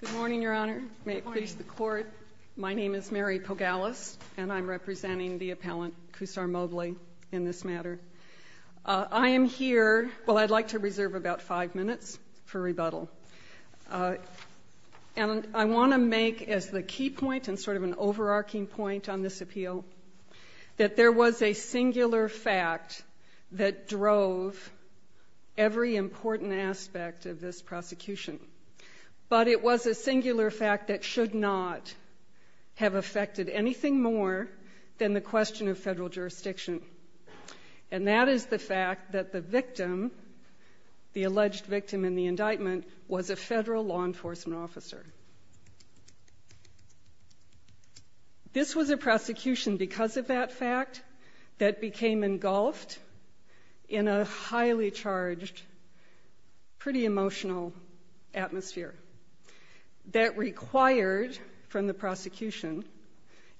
Good morning, Your Honor. May it please the Court, my name is Mary Pogalis, and I'm representing the appellant, Khusar Mobley, in this matter. I am here, well I'd like to reserve about five minutes for rebuttal. And I want to make as the key point and sort of an overarching point on this appeal, that there was a singular fact that drove every important aspect of this prosecution. But it was a singular fact that should not have affected anything more than the question of federal jurisdiction. And that is the fact that the victim, the This was a prosecution because of that fact that became engulfed in a highly charged, pretty emotional atmosphere that required from the prosecution,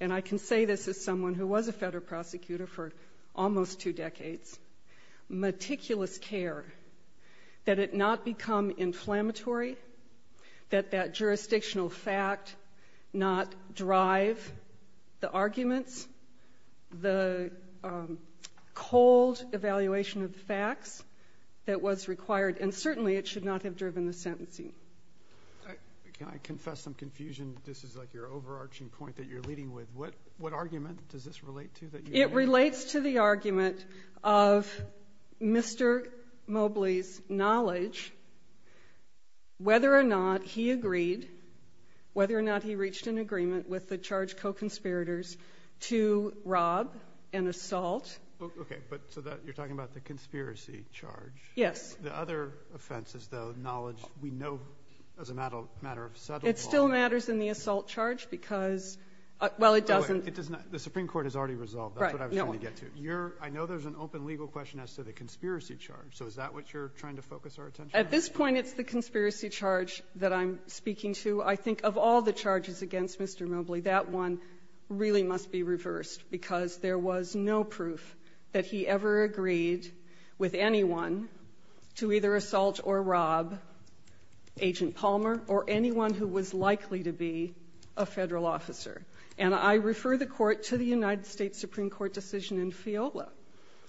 and I can say this as someone who was a federal prosecutor for almost two decades, meticulous care that it not become the arguments, the cold evaluation of facts that was required. And certainly it should not have driven the sentencing. Can I confess some confusion? This is like your overarching point that you're leading with. What argument does this relate to? It relates to the argument of Mr. Mobley's knowledge, whether or not he agreed, whether or not he reached an agreement with the charged co-conspirators to rob and assault. Okay. But so that you're talking about the conspiracy charge. Yes. The other offense is the knowledge we know as a matter of settled law. It still matters in the assault charge because, well, it doesn't. It does not. The Supreme Court has already resolved. That's what I was trying to get to. Right. No one. I know there's an open legal question as to the conspiracy charge. So is that what you're trying to focus our attention on? At this point, it's the conspiracy charge that I'm speaking to. I think of all the charges against Mr. Mobley, that one really must be reversed because there was no proof that he ever agreed with anyone to either assault or rob Agent Palmer or anyone who was likely to be a Federal officer. And I refer the Court to the United States Supreme Court decision in FEOLA,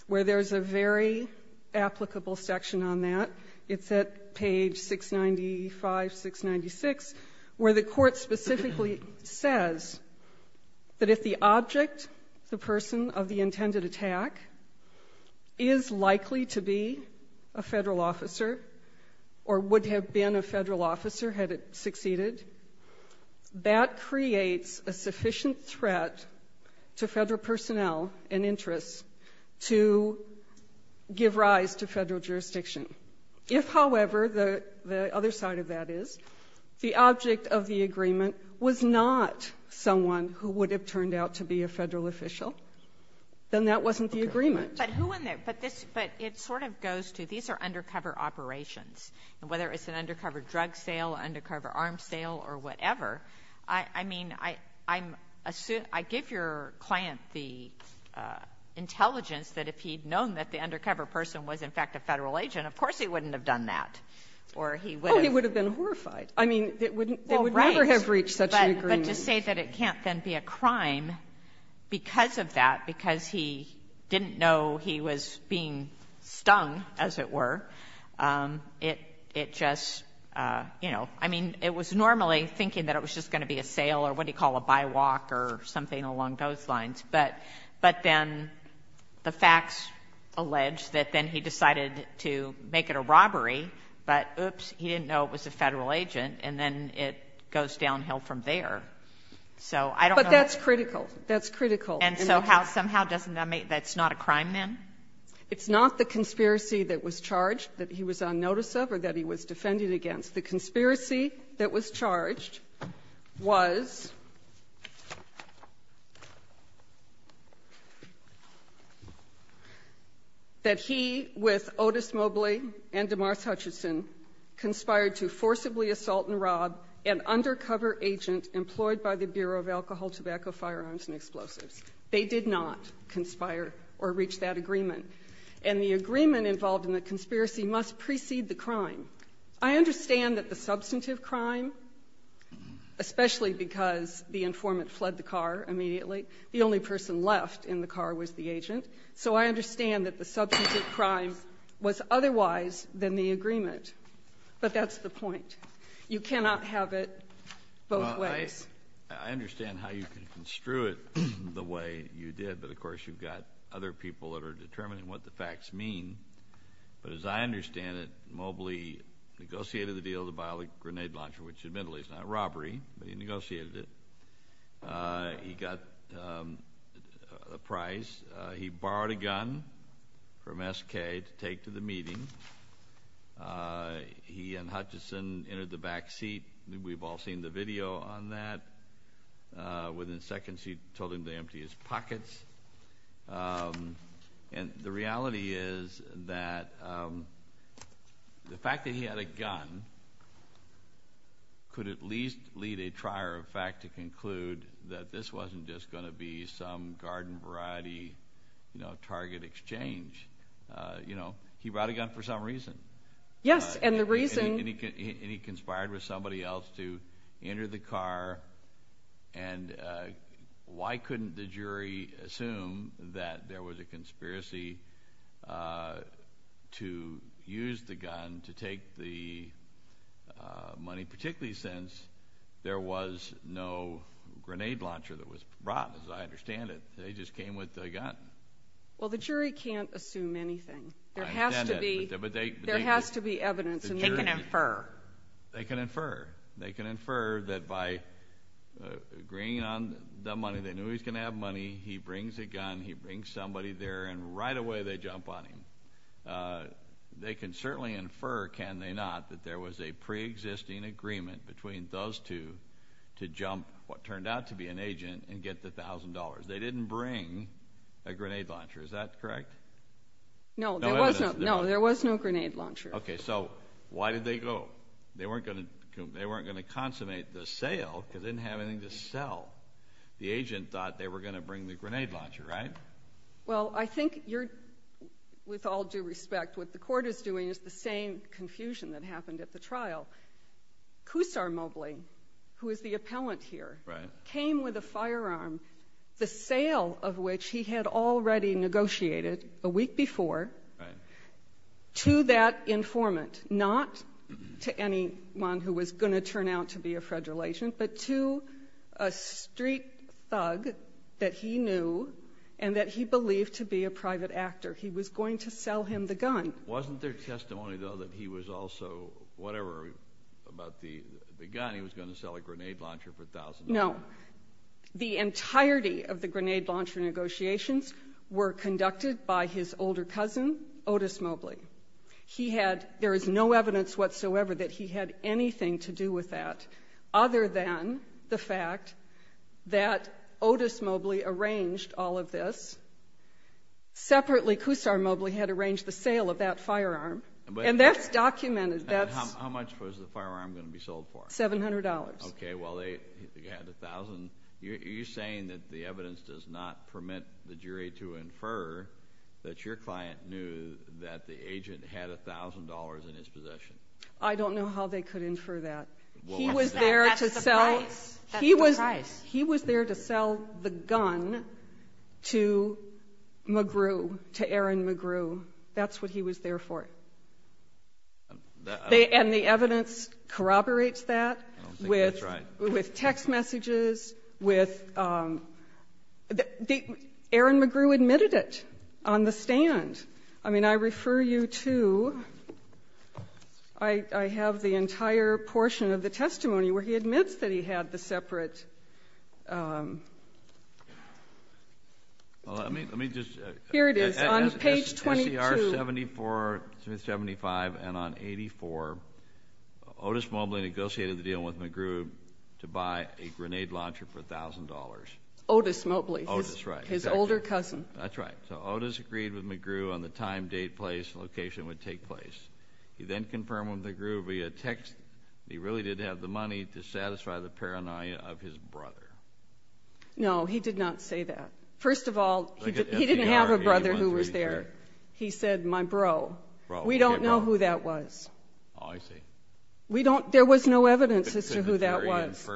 where there's a very applicable section on that. It's at page 695, 696, where the Court specifically says that if the object, the person of the intended attack, is likely to be a Federal officer or would have been a Federal officer had it succeeded, that creates a sufficient threat to Federal personnel and interests to give rise to Federal jurisdiction. If, however, the other side of that is, the object of the agreement was not someone who would have turned out to be a Federal official, then that wasn't the agreement. But who in there – but this – but it sort of goes to these are undercover operations, and whether it's an undercover drug sale, undercover arms sale, or whatever, I mean, I'm assume – I give your client the intelligence that if he'd known that the undercover person was, in fact, a Federal agent, of course he wouldn't have done that, or he would have been horrified. I mean, it wouldn't – they would never have reached such an agreement. But to say that it can't then be a crime because of that, because he didn't know he was being stung, as it were, it just, you know, I mean, it was normally thinking that it was just going to be a sale or what do you call it, a by-walk or something along those lines, but then the facts allege that then he decided to make it a robbery, but, oops, he didn't know it was a Federal agent, and then it goes downhill from there. So I don't know that's critical. That's critical. And so how – somehow doesn't that make – that's not a crime, then? It's not the conspiracy that was charged, that he was on notice of, or that he was defended against. The conspiracy that was charged was that he, with Otis Mobley and DeMars Hutchinson, conspired to forcibly assault and rob an undercover agent employed by the Bureau of Alcohol, Tobacco, Firearms, and Explosives. They did not conspire or reach that agreement. And the agreement involved in the conspiracy must precede the crime. I understand that the substantive crime, especially because the informant fled the car immediately, the only person left in the car was the agent, so I understand that the substantive crime was otherwise than the agreement, but that's the point. You cannot have it both ways. Well, I understand how you can construe it the way you did, but, of course, you've got other people that are determining what the facts mean. But as I understand it, Mobley negotiated the deal with the biologic grenade launcher, which, admittedly, is not robbery, but he negotiated it. He got a prize. He borrowed a gun from SK to take to the meeting. He and Hutchinson entered the back seat. We've all seen the video on that. Within seconds, he told him to empty his pockets. And the reality is that the fact that he had a gun could at least lead a trier of fact to conclude that this wasn't just going to be some garden variety, you know, target exchange. You know, he brought a gun for some reason. Yes. And the reason... And he conspired with somebody else to enter the car. And why couldn't the jury assume that there was a conspiracy to use the gun to take the money, particularly since there was no grenade launcher that was brought, as I understand it? They just came with the gun. Well, the jury can't assume anything. There has to be... I understand that, but they... There has to be evidence. They can infer. They can infer. They can infer that by agreeing on the money, they knew he was going to have money. He brings a gun. He brings somebody there, and right away they jump on him. They can certainly infer, can they not, that there was a pre-existing agreement between those two to jump what turned out to be an agent and get the $1,000. They didn't bring a grenade launcher. Is that correct? No. No evidence. No, there was no grenade launcher. Okay, so why did they go? They weren't going to consummate the sale because they didn't have anything to sell. The agent thought they were going to bring the grenade launcher, right? Well, I think you're, with all due respect, what the court is doing is the same confusion that happened at the trial. Kusar Mobli, who is the appellant here, came with a firearm, the sale of which he had already negotiated a week before to that informant, not to anyone who was going to turn out to be a federal agent, but to a street thug that he knew and that he believed to be a private actor. He was going to sell him the gun. Wasn't there testimony, though, that he was also, whatever, about the gun, he was going to sell a grenade launcher for $1,000? No. The entirety of the grenade launcher negotiations were conducted by his older cousin, Otis Mobli. He had, there is no evidence whatsoever that he had anything to do with that other than the fact that Otis Mobli arranged all of this. Separately, Kusar Mobli had arranged the sale of that firearm. And that's documented. How much was the firearm going to be sold for? $700. Okay. Well, they had $1,000. Are you saying that the evidence does not permit the jury to infer that your client knew that the agent had $1,000 in his possession? I don't know how they could infer that. He was there to sell the gun to McGrew, to Aaron McGrew. That's what he was there for. And the evidence corroborates that with text messages, with the Aaron McGrew admitted it on the stand. I mean, I refer you to, I have the entire portion of the testimony where he admits that he had the separate. Well, let me just. Here it is on page 22. On SCR 7475 and on 84, Otis Mobli negotiated the deal with McGrew to buy a grenade launcher for $1,000. Otis Mobli. Otis, right. His older cousin. That's right. So Otis agreed with McGrew on the time, date, place, location it would take place. He then confirmed with McGrew via text that he really did have the money to satisfy the paranoia of his brother. No, he did not say that. First of all, he didn't have a brother who was there. He said, my bro. Bro. We don't know who that was. Oh, I see. We don't. There was no evidence as to who that was.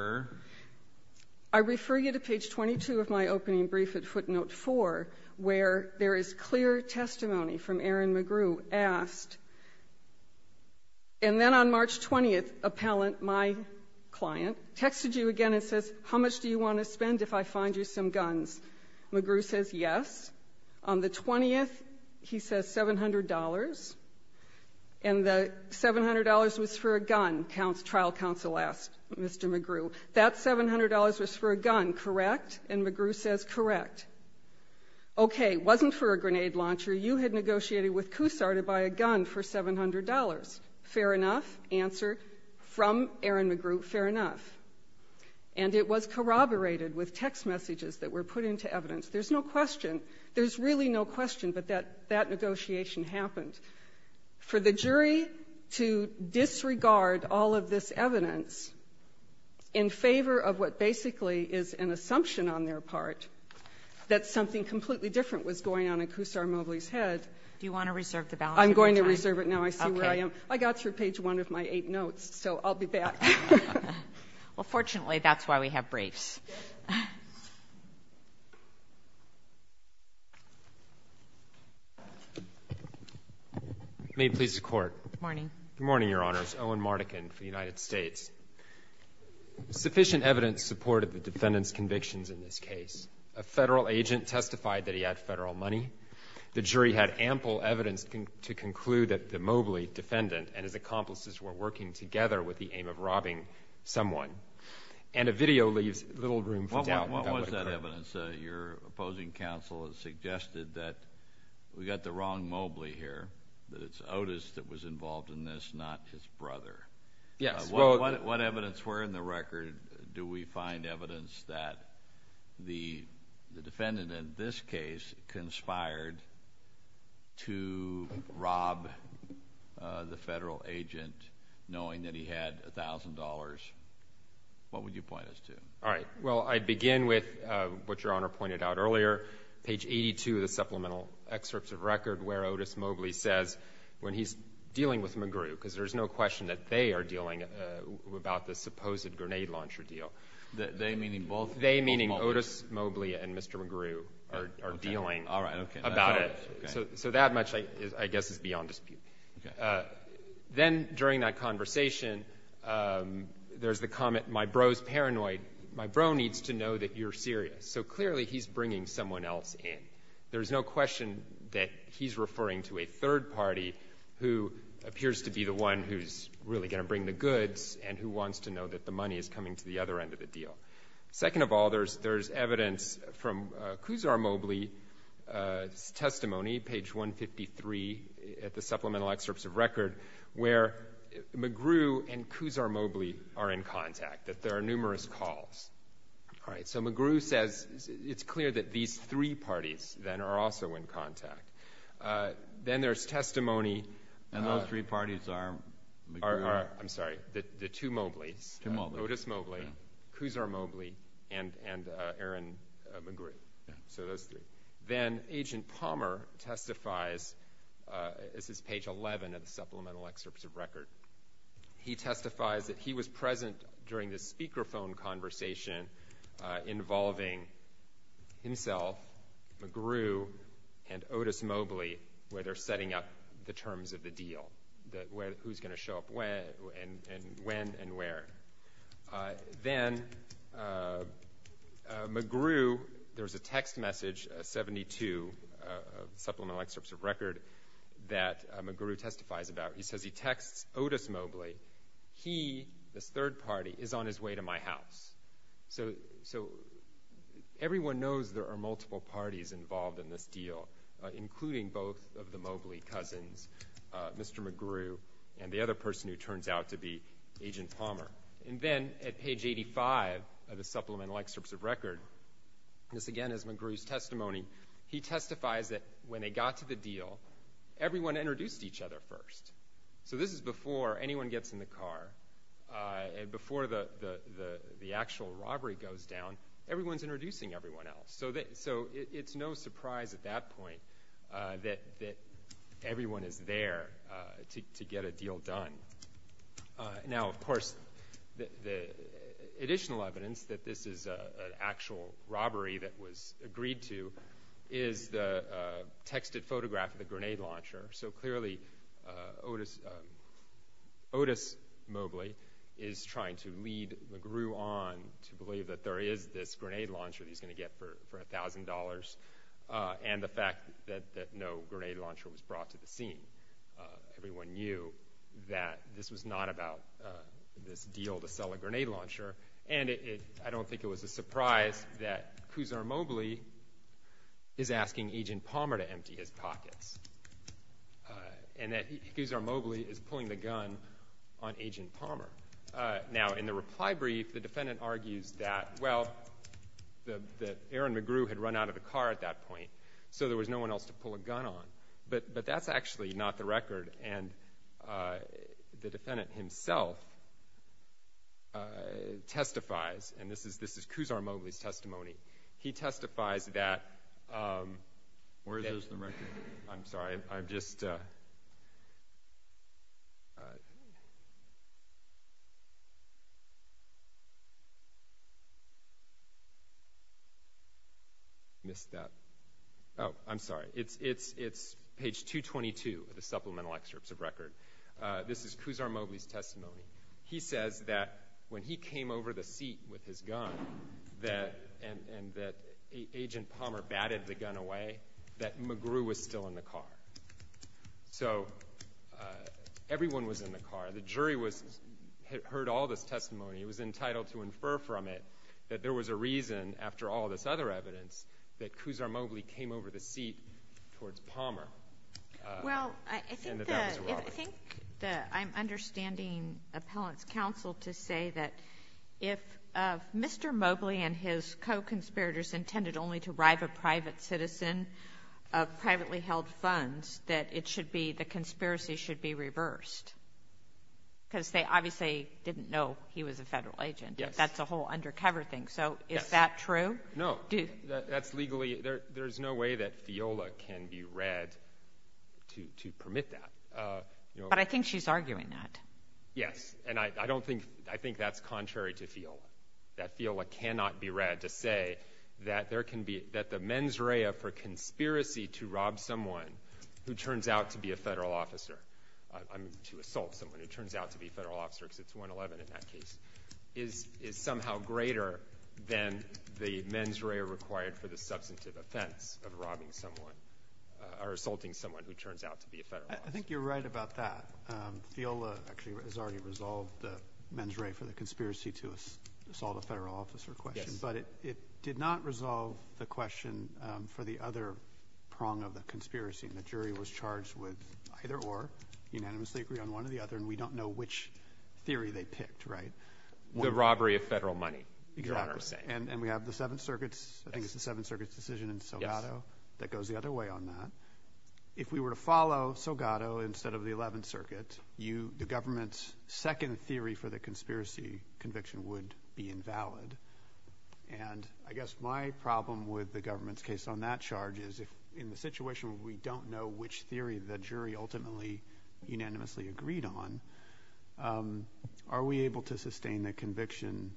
I refer you to page 22 of my opening brief at footnote 4 where there is clear testimony from Aaron McGrew asked, and then on March 20th, appellant, my client, texted you again and says, how much do you want to spend if I find you some guns? McGrew says yes. On the 20th, he says $700. And the $700 was for a gun, trial counsel asked Mr. McGrew. That $700 was for a gun, correct? And McGrew says, correct. Okay, wasn't for a grenade launcher. You had negotiated with CUSAR to buy a gun for $700. Fair enough. Answer from Aaron McGrew, fair enough. And it was corroborated with text messages that were put into evidence. There's no question. There's really no question, but that negotiation happened. For the jury to disregard all of this evidence in favor of what basically is an assumption on their part, that something completely different was going on in CUSAR Mobley's head. Do you want to reserve the balance of your time? I'm going to reserve it now. I see where I am. Okay. I got through page 1 of my eight notes, so I'll be back. Well, fortunately, that's why we have briefs. May it please the Court. Good morning. Good morning, Your Honors. Owen Mardekin for the United States. Sufficient evidence supported the defendant's convictions in this case. A Federal agent testified that he had Federal money. The jury had ample evidence to conclude that the Mobley defendant and his accomplices were working together with the aim of robbing someone. And a video leaves little room for doubt. What was that evidence? Your opposing counsel has suggested that we've got the wrong Mobley here, that it's Otis that was involved in this, not his brother. What evidence were in the record? Do we find evidence that the defendant in this case conspired to rob the Federal agent knowing that he had $1,000? What would you point us to? All right. Well, I'd begin with what Your Honor pointed out earlier. Page 82 of the supplemental excerpts of record where Otis Mobley says when he's dealing with McGrew, because there's no question that they are dealing about the supposed grenade launcher deal. They, meaning both? They, meaning Otis Mobley and Mr. McGrew, are dealing about it. So that much, I guess, is beyond dispute. Then during that conversation, there's the comment, my bro's paranoid. My bro needs to know that you're serious. So clearly, he's bringing someone else in. There's no question that he's referring to a third party who appears to be the one who's really going to bring the goods and who wants to know that the money is coming to the other end of the deal. Second of all, there's evidence from Kuzar Mobley's testimony, page 153 at the supplemental excerpts of record, where McGrew and Kuzar Mobley are in contact, that there are numerous calls. All right. So McGrew says it's clear that these three parties then are also in contact. Then there's testimony. And those three parties are McGrew? I'm sorry, the two Mobleys. Two Mobleys. Otis Mobley, Kuzar Mobley, and Aaron McGrew. So those three. Then, Agent Palmer testifies, this is page 11 of the supplemental excerpts of record. He testifies that he was present during the speakerphone conversation involving himself, McGrew, and Otis Mobley, where they're setting up the terms of the deal. That who's going to show up when and where. Then, McGrew, there's a text message, a 72, supplemental excerpts of record, that McGrew testifies about. He says he texts Otis Mobley, he, this third party, is on his way to my house. So everyone knows there are multiple parties involved in this deal, including both of the Mobley cousins, Mr. McGrew, and the other person who turns out to be Agent Palmer. And then, at page 85 of the supplemental excerpts of record, this again is McGrew's testimony. He testifies that when they got to the deal, everyone introduced each other first. So this is before anyone gets in the car, and before the actual robbery goes down, everyone's introducing everyone else. So it's no surprise at that point that everyone is there to get a deal done. Now, of course, the additional evidence that this is an actual robbery that was agreed to is the texted photograph of the grenade launcher. So clearly, Otis Mobley is trying to lead McGrew on to believe that there is this grenade launcher that he's going to get for $1,000, and the fact that no grenade launcher was brought to the scene. Everyone knew that this was not about this deal to sell a grenade launcher. And I don't think it was a surprise that Kuzar Mobley is asking Agent Palmer to empty his pockets, and that Kuzar Mobley is pulling the gun on Agent Palmer. Now, in the reply brief, the defendant argues that, well, that Aaron McGrew had run out of the car at that point, so there was no one else to pull a gun on, but that's actually not the record. And the defendant himself testifies, and this is Kuzar Mobley's testimony. He testifies that- Where is the record? I'm sorry, I'm just. Missed that. I'm sorry, it's page 222 of the supplemental excerpts of record. This is Kuzar Mobley's testimony. He says that when he came over the seat with his gun, and that Agent Palmer batted the gun away, that McGrew was still in the car. So everyone was in the car. The jury heard all this testimony. It was entitled to infer from it that there was a reason, after all this other evidence, that Kuzar Mobley came over the seat towards Palmer. And that that was a robbery. Well, I think that I'm understanding Appellant's counsel to say that if Mr. Mobley and his co-conspirators intended only to bribe a private citizen of privately held funds, that the conspiracy should be reversed. Because they obviously didn't know he was a federal agent. Yes. That's a whole undercover thing. So is that true? No. That's legally, there's no way that FIOLA can be read to permit that. But I think she's arguing that. Yes, and I don't think, I think that's contrary to FIOLA. That FIOLA cannot be read to say that there can be, that the mens rea for conspiracy to rob someone who turns out to be a federal officer, to assault someone who turns out to be a federal officer, because it's 111 in that case, is somehow greater than the mens rea required for the substantive offense of robbing someone, or assaulting someone who turns out to be a federal officer. I think you're right about that. FIOLA actually has already resolved the mens re for the conspiracy to assault a federal officer question. But it did not resolve the question for the other prong of the conspiracy. The jury was charged with either or, unanimously agree on one or the other. And we don't know which theory they picked, right? The robbery of federal money, Your Honor is saying. And we have the Seventh Circuit's, I think it's the Seventh Circuit's decision in Sogato that goes the other way on that. If we were to follow Sogato instead of the Eleventh Circuit, the government's second theory for the conspiracy conviction would be invalid. And I guess my problem with the government's case on that charge is if in the situation where we don't know which theory the jury ultimately unanimously agreed on, are we able to sustain the conviction,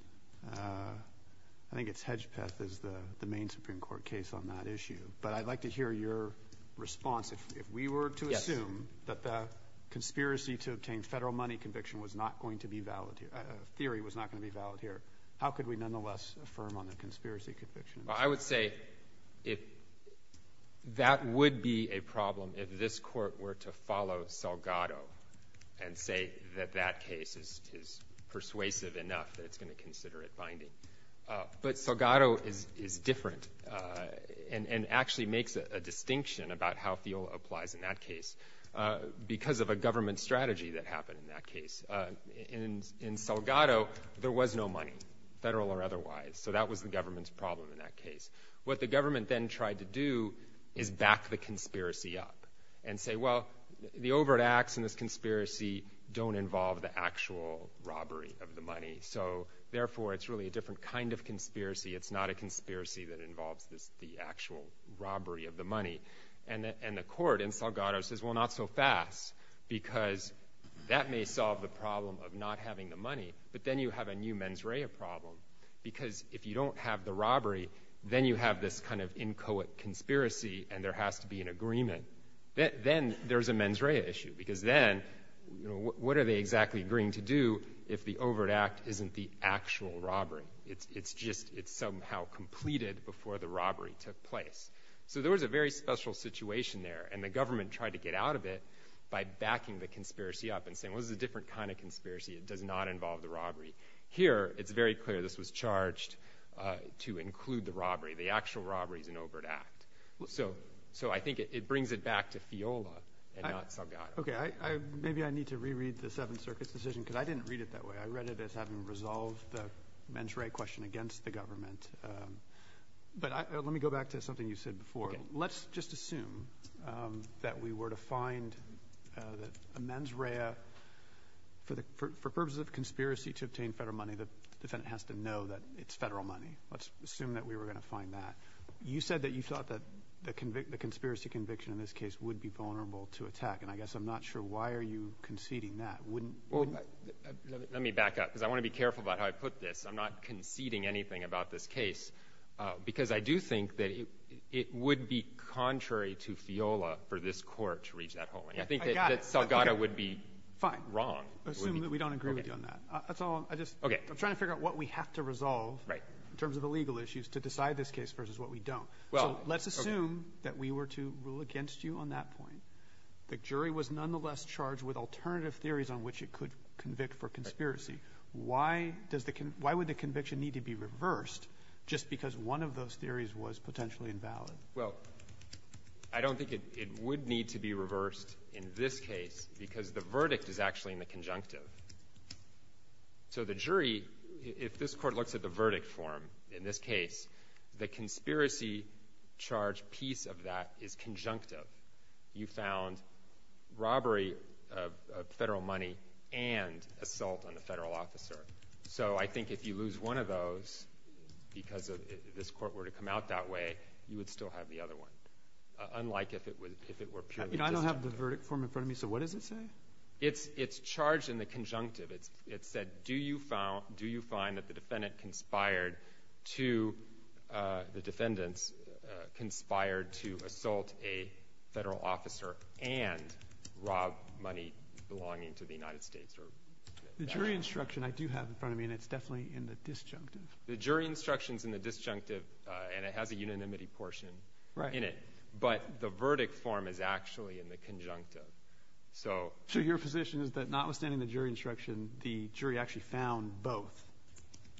I think it's Hedgepeth as the main Supreme Court case on that issue. But I'd like to hear your response. If we were to assume that the conspiracy to obtain federal money conviction was not going to be valid here, theory was not going to be valid here, how could we nonetheless affirm on the conspiracy conviction? Well, I would say that would be a problem if this court were to follow Sogato, and say that that case is persuasive enough that it's going to consider it binding. But Sogato is different, and actually makes a distinction about how field applies in that case. Because of a government strategy that happened in that case, in Sogato there was no money, federal or otherwise. So that was the government's problem in that case. What the government then tried to do is back the conspiracy up, and say, well, the overt acts in this conspiracy don't involve the actual robbery of the money. So therefore, it's really a different kind of conspiracy. It's not a conspiracy that involves the actual robbery of the money. And the court in Sogato says, well, not so fast, because that may solve the problem of not having the money. But then you have a new mens rea problem. Because if you don't have the robbery, then you have this kind of inchoate conspiracy, and there has to be an agreement. Then there's a mens rea issue, because then what are they exactly agreeing to do if the overt act isn't the actual robbery? It's just, it's somehow completed before the robbery took place. So there was a very special situation there, and the government tried to get out of it by backing the conspiracy up, and saying, well, this is a different kind of conspiracy. It does not involve the robbery. Here, it's very clear this was charged to include the robbery. The actual robbery is an overt act. So I think it brings it back to Fiola and not Sogato. Okay, maybe I need to reread the Seventh Circuit's decision, because I didn't read it that way. I read it as having resolved the mens rea question against the government. But let me go back to something you said before. Let's just assume that we were to find that a mens rea, for purposes of conspiracy to obtain federal money, the defendant has to know that it's federal money. Let's assume that we were going to find that. You said that you thought that the conspiracy conviction in this case would be vulnerable to attack, and I guess I'm not sure why are you conceding that? Let me back up, because I want to be careful about how I put this. I'm not conceding anything about this case, because I do think that it would be contrary to Fiola for this court to reach that holding. I think that Sogato would be wrong. Assume that we don't agree with you on that. That's all, I just, I'm trying to figure out what we have to resolve in terms of the legal issues to decide this case versus what we don't. So let's assume that we were to rule against you on that point. The jury was nonetheless charged with alternative theories on which it could convict for conspiracy. Why does the, why would the conviction need to be reversed just because one of those theories was potentially invalid? Well, I don't think it would need to be reversed in this case, because the verdict is actually in the conjunctive. So the jury, if this court looks at the verdict form, in this case, the conspiracy charge piece of that is conjunctive. You found robbery of federal money and assault on a federal officer. So I think if you lose one of those, because this court were to come out that way, you would still have the other one. Unlike if it were purely- I don't have the verdict form in front of me, so what does it say? It's charged in the conjunctive. It said, do you find that the defendant conspired to, the defendants conspired to assault a federal officer and rob money belonging to the United States or- The jury instruction I do have in front of me, and it's definitely in the disjunctive. The jury instruction's in the disjunctive, and it has a unanimity portion in it. But the verdict form is actually in the conjunctive. So- So your position is that notwithstanding the jury instruction, the jury actually found both?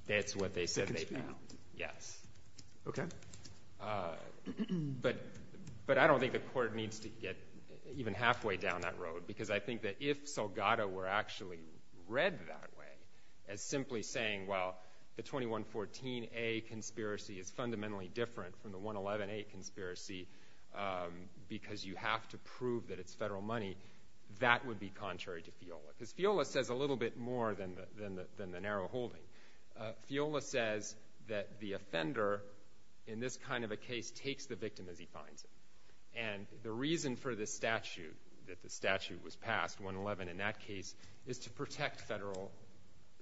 That's what they said they found. Yes. Okay. But I don't think the court needs to get even halfway down that road, because I think that if Salgado were actually read that way as simply saying, well, the 2114A conspiracy is fundamentally different from the 111A conspiracy, because you have to prove that it's federal money, that would be contrary to Fiola. Because Fiola says a little bit more than the narrow holding. Fiola says that the offender in this kind of a case takes the victim as he finds it. And the reason for this statute, that the statute was passed, 111 in that case, is to protect federal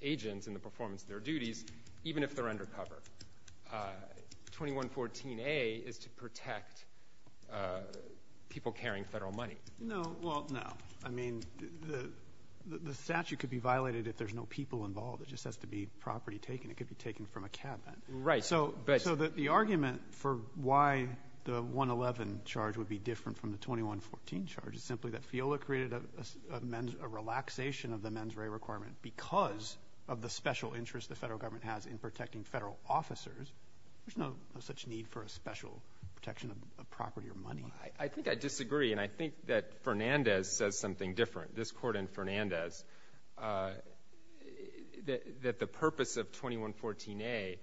agents in the performance of their duties, even if they're undercover. 2114A is to protect people carrying federal money. No, well, no. I mean, the statute could be violated if there's no people involved. It just has to be property taken. It could be taken from a cabin. Right, but- So the argument for why the 111 charge would be different from the 2114 charge is simply that Fiola created a relaxation of the mens rea requirement because of the special interest the federal government has in protecting federal officers. There's no such need for a special protection of property or money. I think I disagree, and I think that Fernandez says something different. This court and Fernandez, that the purpose of 2114A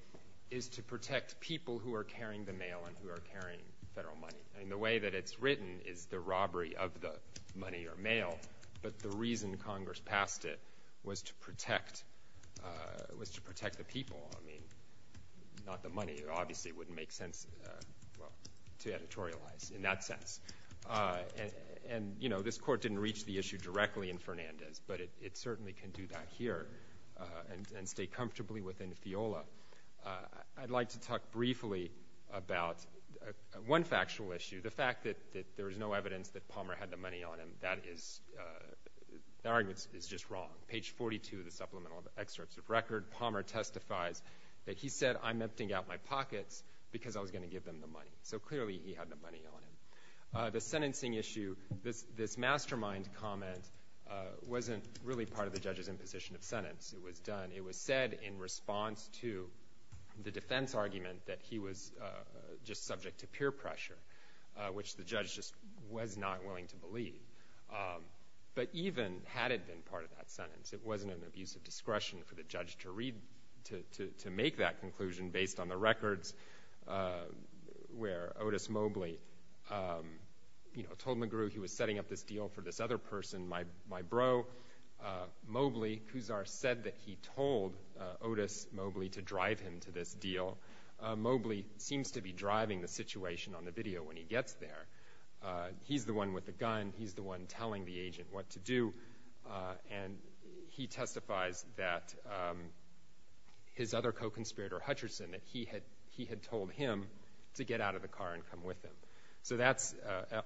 is to protect people who are carrying the mail and who are carrying federal money. I mean, the way that it's written is the robbery of the money or mail. But the reason Congress passed it was to protect the people, I mean, not the money. It obviously wouldn't make sense, well, to editorialize in that sense. And, you know, this court didn't reach the issue directly in Fernandez, but it certainly can do that here and stay comfortably within Fiola. I'd like to talk briefly about one factual issue, the fact that there is no evidence that Palmer had the money on him, that is, the argument is just wrong. Page 42 of the supplemental excerpts of record, Palmer testifies that he said, I'm emptying out my pockets because I was going to give them the money. So clearly, he had the money on him. The sentencing issue, this mastermind comment wasn't really part of the judge's imposition of sentence. It was done, it was said in response to the defense argument that he was just subject to peer pressure, which the judge just was not willing to believe. But even had it been part of that sentence, it wasn't an abuse of discretion for the judge to read, to make that conclusion based on the records where Otis Mobley, you know, told McGrew he was setting up this deal for this other person, my bro. Mobley, Kuzar said that he told Otis Mobley to drive him to this deal. Mobley seems to be driving the situation on the video when he gets there. He's the one with the gun. He's the one telling the agent what to do. And he testifies that his other co-conspirator, Hutcherson, that he had told him to get out of the car and come with him. So that's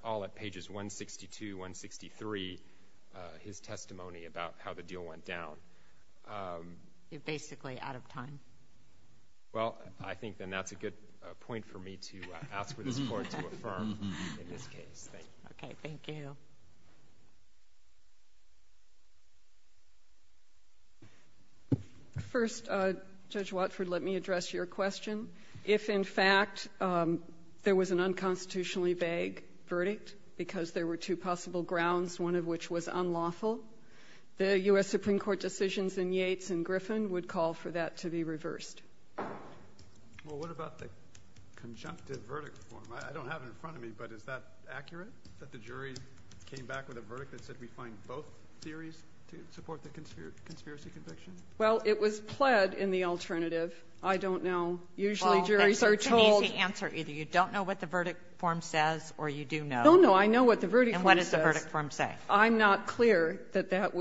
all at pages 162, 163, his testimony about how the deal went down. You're basically out of time. Well, I think then that's a good point for me to ask for the support to affirm in this case. Thank you. Okay. Thank you. First, Judge Watford, let me address your question. If, in fact, there was an unconstitutionally vague verdict because there were two possible grounds, one of which was unlawful, the U.S. Supreme Court decisions in Yates and Griffin would call for that to be reversed. Well, what about the conjunctive verdict form? I don't have it in front of me, but is that accurate, that the jury came back with a verdict that said we find both theories to support the conspiracy conviction? Well, it was pled in the alternative. I don't know. Usually, juries are told you don't know what the verdict form says or you do know. No, no, I know what the verdict form says. And what does the verdict form say? I'm not clear that that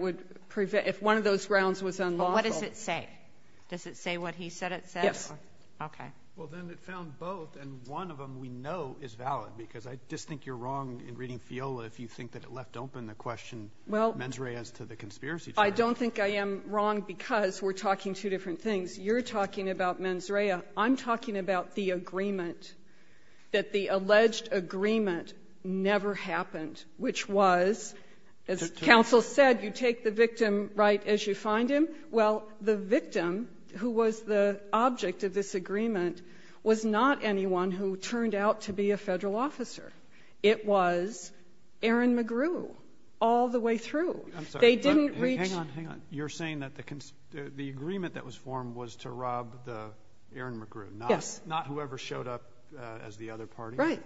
would prevent one of those grounds was unlawful. What does it say? Does it say what he said it said? Yes. Okay. Well, then it found both, and one of them we know is valid, because I just think you're wrong in reading FIOLA if you think that it left open the question, mens rea, as to the conspiracy charge. I don't think I am wrong because we're talking two different things. You're talking about mens rea. I'm talking about the agreement, that the alleged agreement never happened, which was, as counsel said, you take the victim right as you find him. Well, the victim, who was the object of this agreement, was not anyone who turned out to be a Federal officer. It was Aaron McGrew all the way through. They didn't reach the concern. Hang on, hang on. You're saying that the agreement that was formed was to rob the Aaron McGrew? Yes. Not whoever showed up as the other party? Right.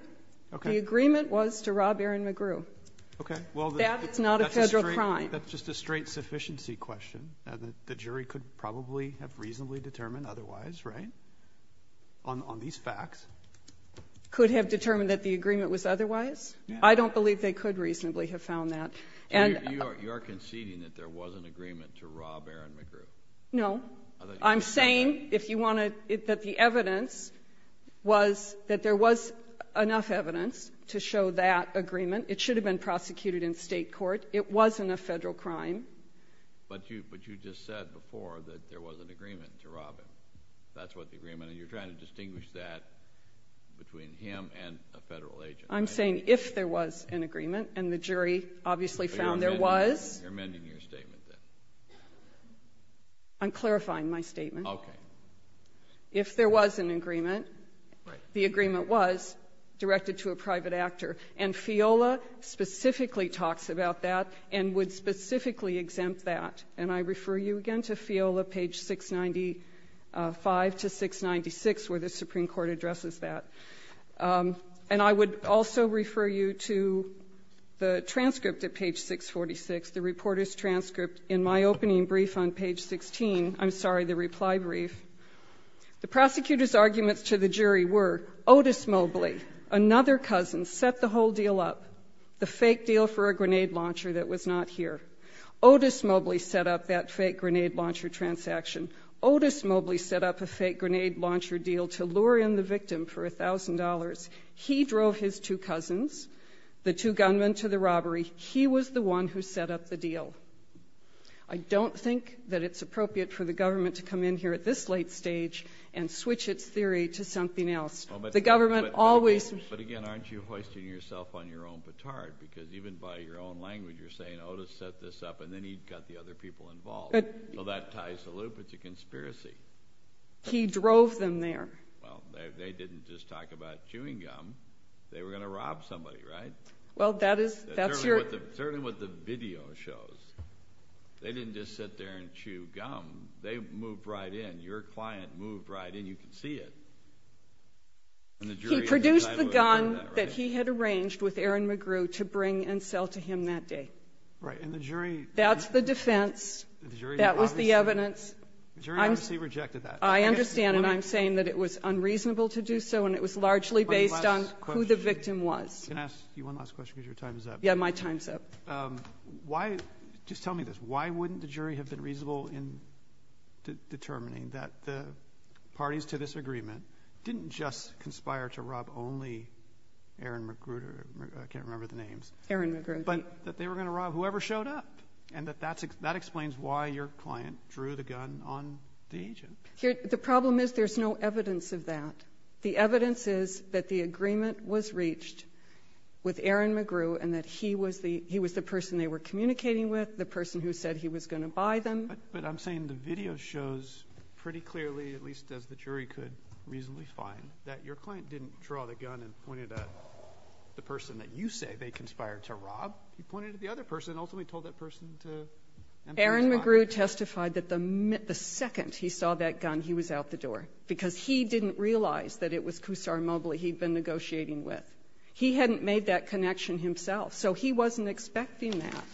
Okay. The agreement was to rob Aaron McGrew. Okay. Well, that's not a Federal crime. That's just a straight sufficiency question. The jury could probably have reasonably determined otherwise, right, on these facts. Could have determined that the agreement was otherwise? I don't believe they could reasonably have found that. And you are conceding that there was an agreement to rob Aaron McGrew? No. I'm saying, if you want to, that the evidence was that there was enough evidence to show that agreement. It should have been prosecuted in State court. It wasn't a Federal crime. But you just said before that there was an agreement to rob him. That's what the agreement is. And you're trying to distinguish that between him and a Federal agent. I'm saying, if there was an agreement, and the jury obviously found there was. You're amending your statement, then. I'm clarifying my statement. Okay. If there was an agreement, the agreement was directed to a private actor. And FIOLA specifically talks about that and would specifically exempt that. And I refer you again to FIOLA, page 695 to 696, where the Supreme Court addresses that. And I would also refer you to the transcript at page 646, the reporter's transcript in my opening brief on page 16, I'm sorry, the reply brief. The prosecutor's arguments to the jury were Otis Mobley, another cousin, set the whole deal up, the fake deal for a grenade launcher that was not here. Otis Mobley set up that fake grenade launcher transaction. Otis Mobley set up a fake grenade launcher deal to lure in the victim for $1,000. He drove his two cousins, the two gunmen, to the robbery. He was the one who set up the deal. I don't think that it's appropriate for the government to come in here at this late stage and switch its theory to something else. The government always. But again, aren't you hoisting yourself on your own batard? Because even by your own language, you're saying, Otis set this up and then he got the other people involved. So that ties the loop, it's a conspiracy. He drove them there. Well, they didn't just talk about chewing gum. They were going to rob somebody, right? Well that is, that's your. That's certainly what the video shows. They didn't just sit there and chew gum. They moved right in. Your client moved right in, you can see it. He produced the gun that he had arranged with Aaron McGrew to bring and sell to him that day. Right. And the jury. That's the defense. The jury obviously. That was the evidence. The jury obviously rejected that. I understand, and I'm saying that it was unreasonable to do so, and it was largely based on who the victim was. One last question. Can I ask you one last question, because your time is up? Yeah, my time is up. Why do you tell me this? Why wouldn't the jury have been reasonable in determining that the parties to this agreement didn't just conspire to rob only Aaron McGrew, I can't remember the names. Aaron McGrew. But that they were going to rob whoever showed up, and that that explains why your client drew the gun on the agent. The problem is there's no evidence of that. The evidence is that the agreement was reached with Aaron McGrew and that he was the person they were communicating with, the person who said he was going to buy them. But I'm saying the video shows pretty clearly, at least as the jury could reasonably find, that your client didn't draw the gun and pointed at the person that you say they conspired to rob. He pointed at the other person and ultimately told that person to empty his car. Aaron McGrew testified that the second he saw that gun, he was out the door, because he didn't realize that it was Kusar Mobley he'd been negotiating with. He hadn't made that connection himself, so he wasn't expecting that.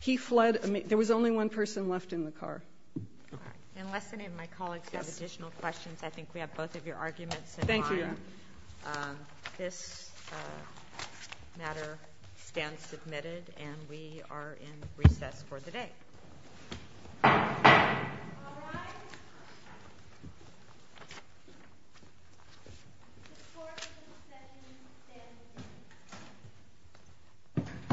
He fled. There was only one person left in the car. All right. Unless any of my colleagues have additional questions, I think we have both of your arguments in mind. Thank you, Your Honor. This matter stands submitted, and we are in recess for the day. All rise. The court is in session. Stand at ease. Stand at ease.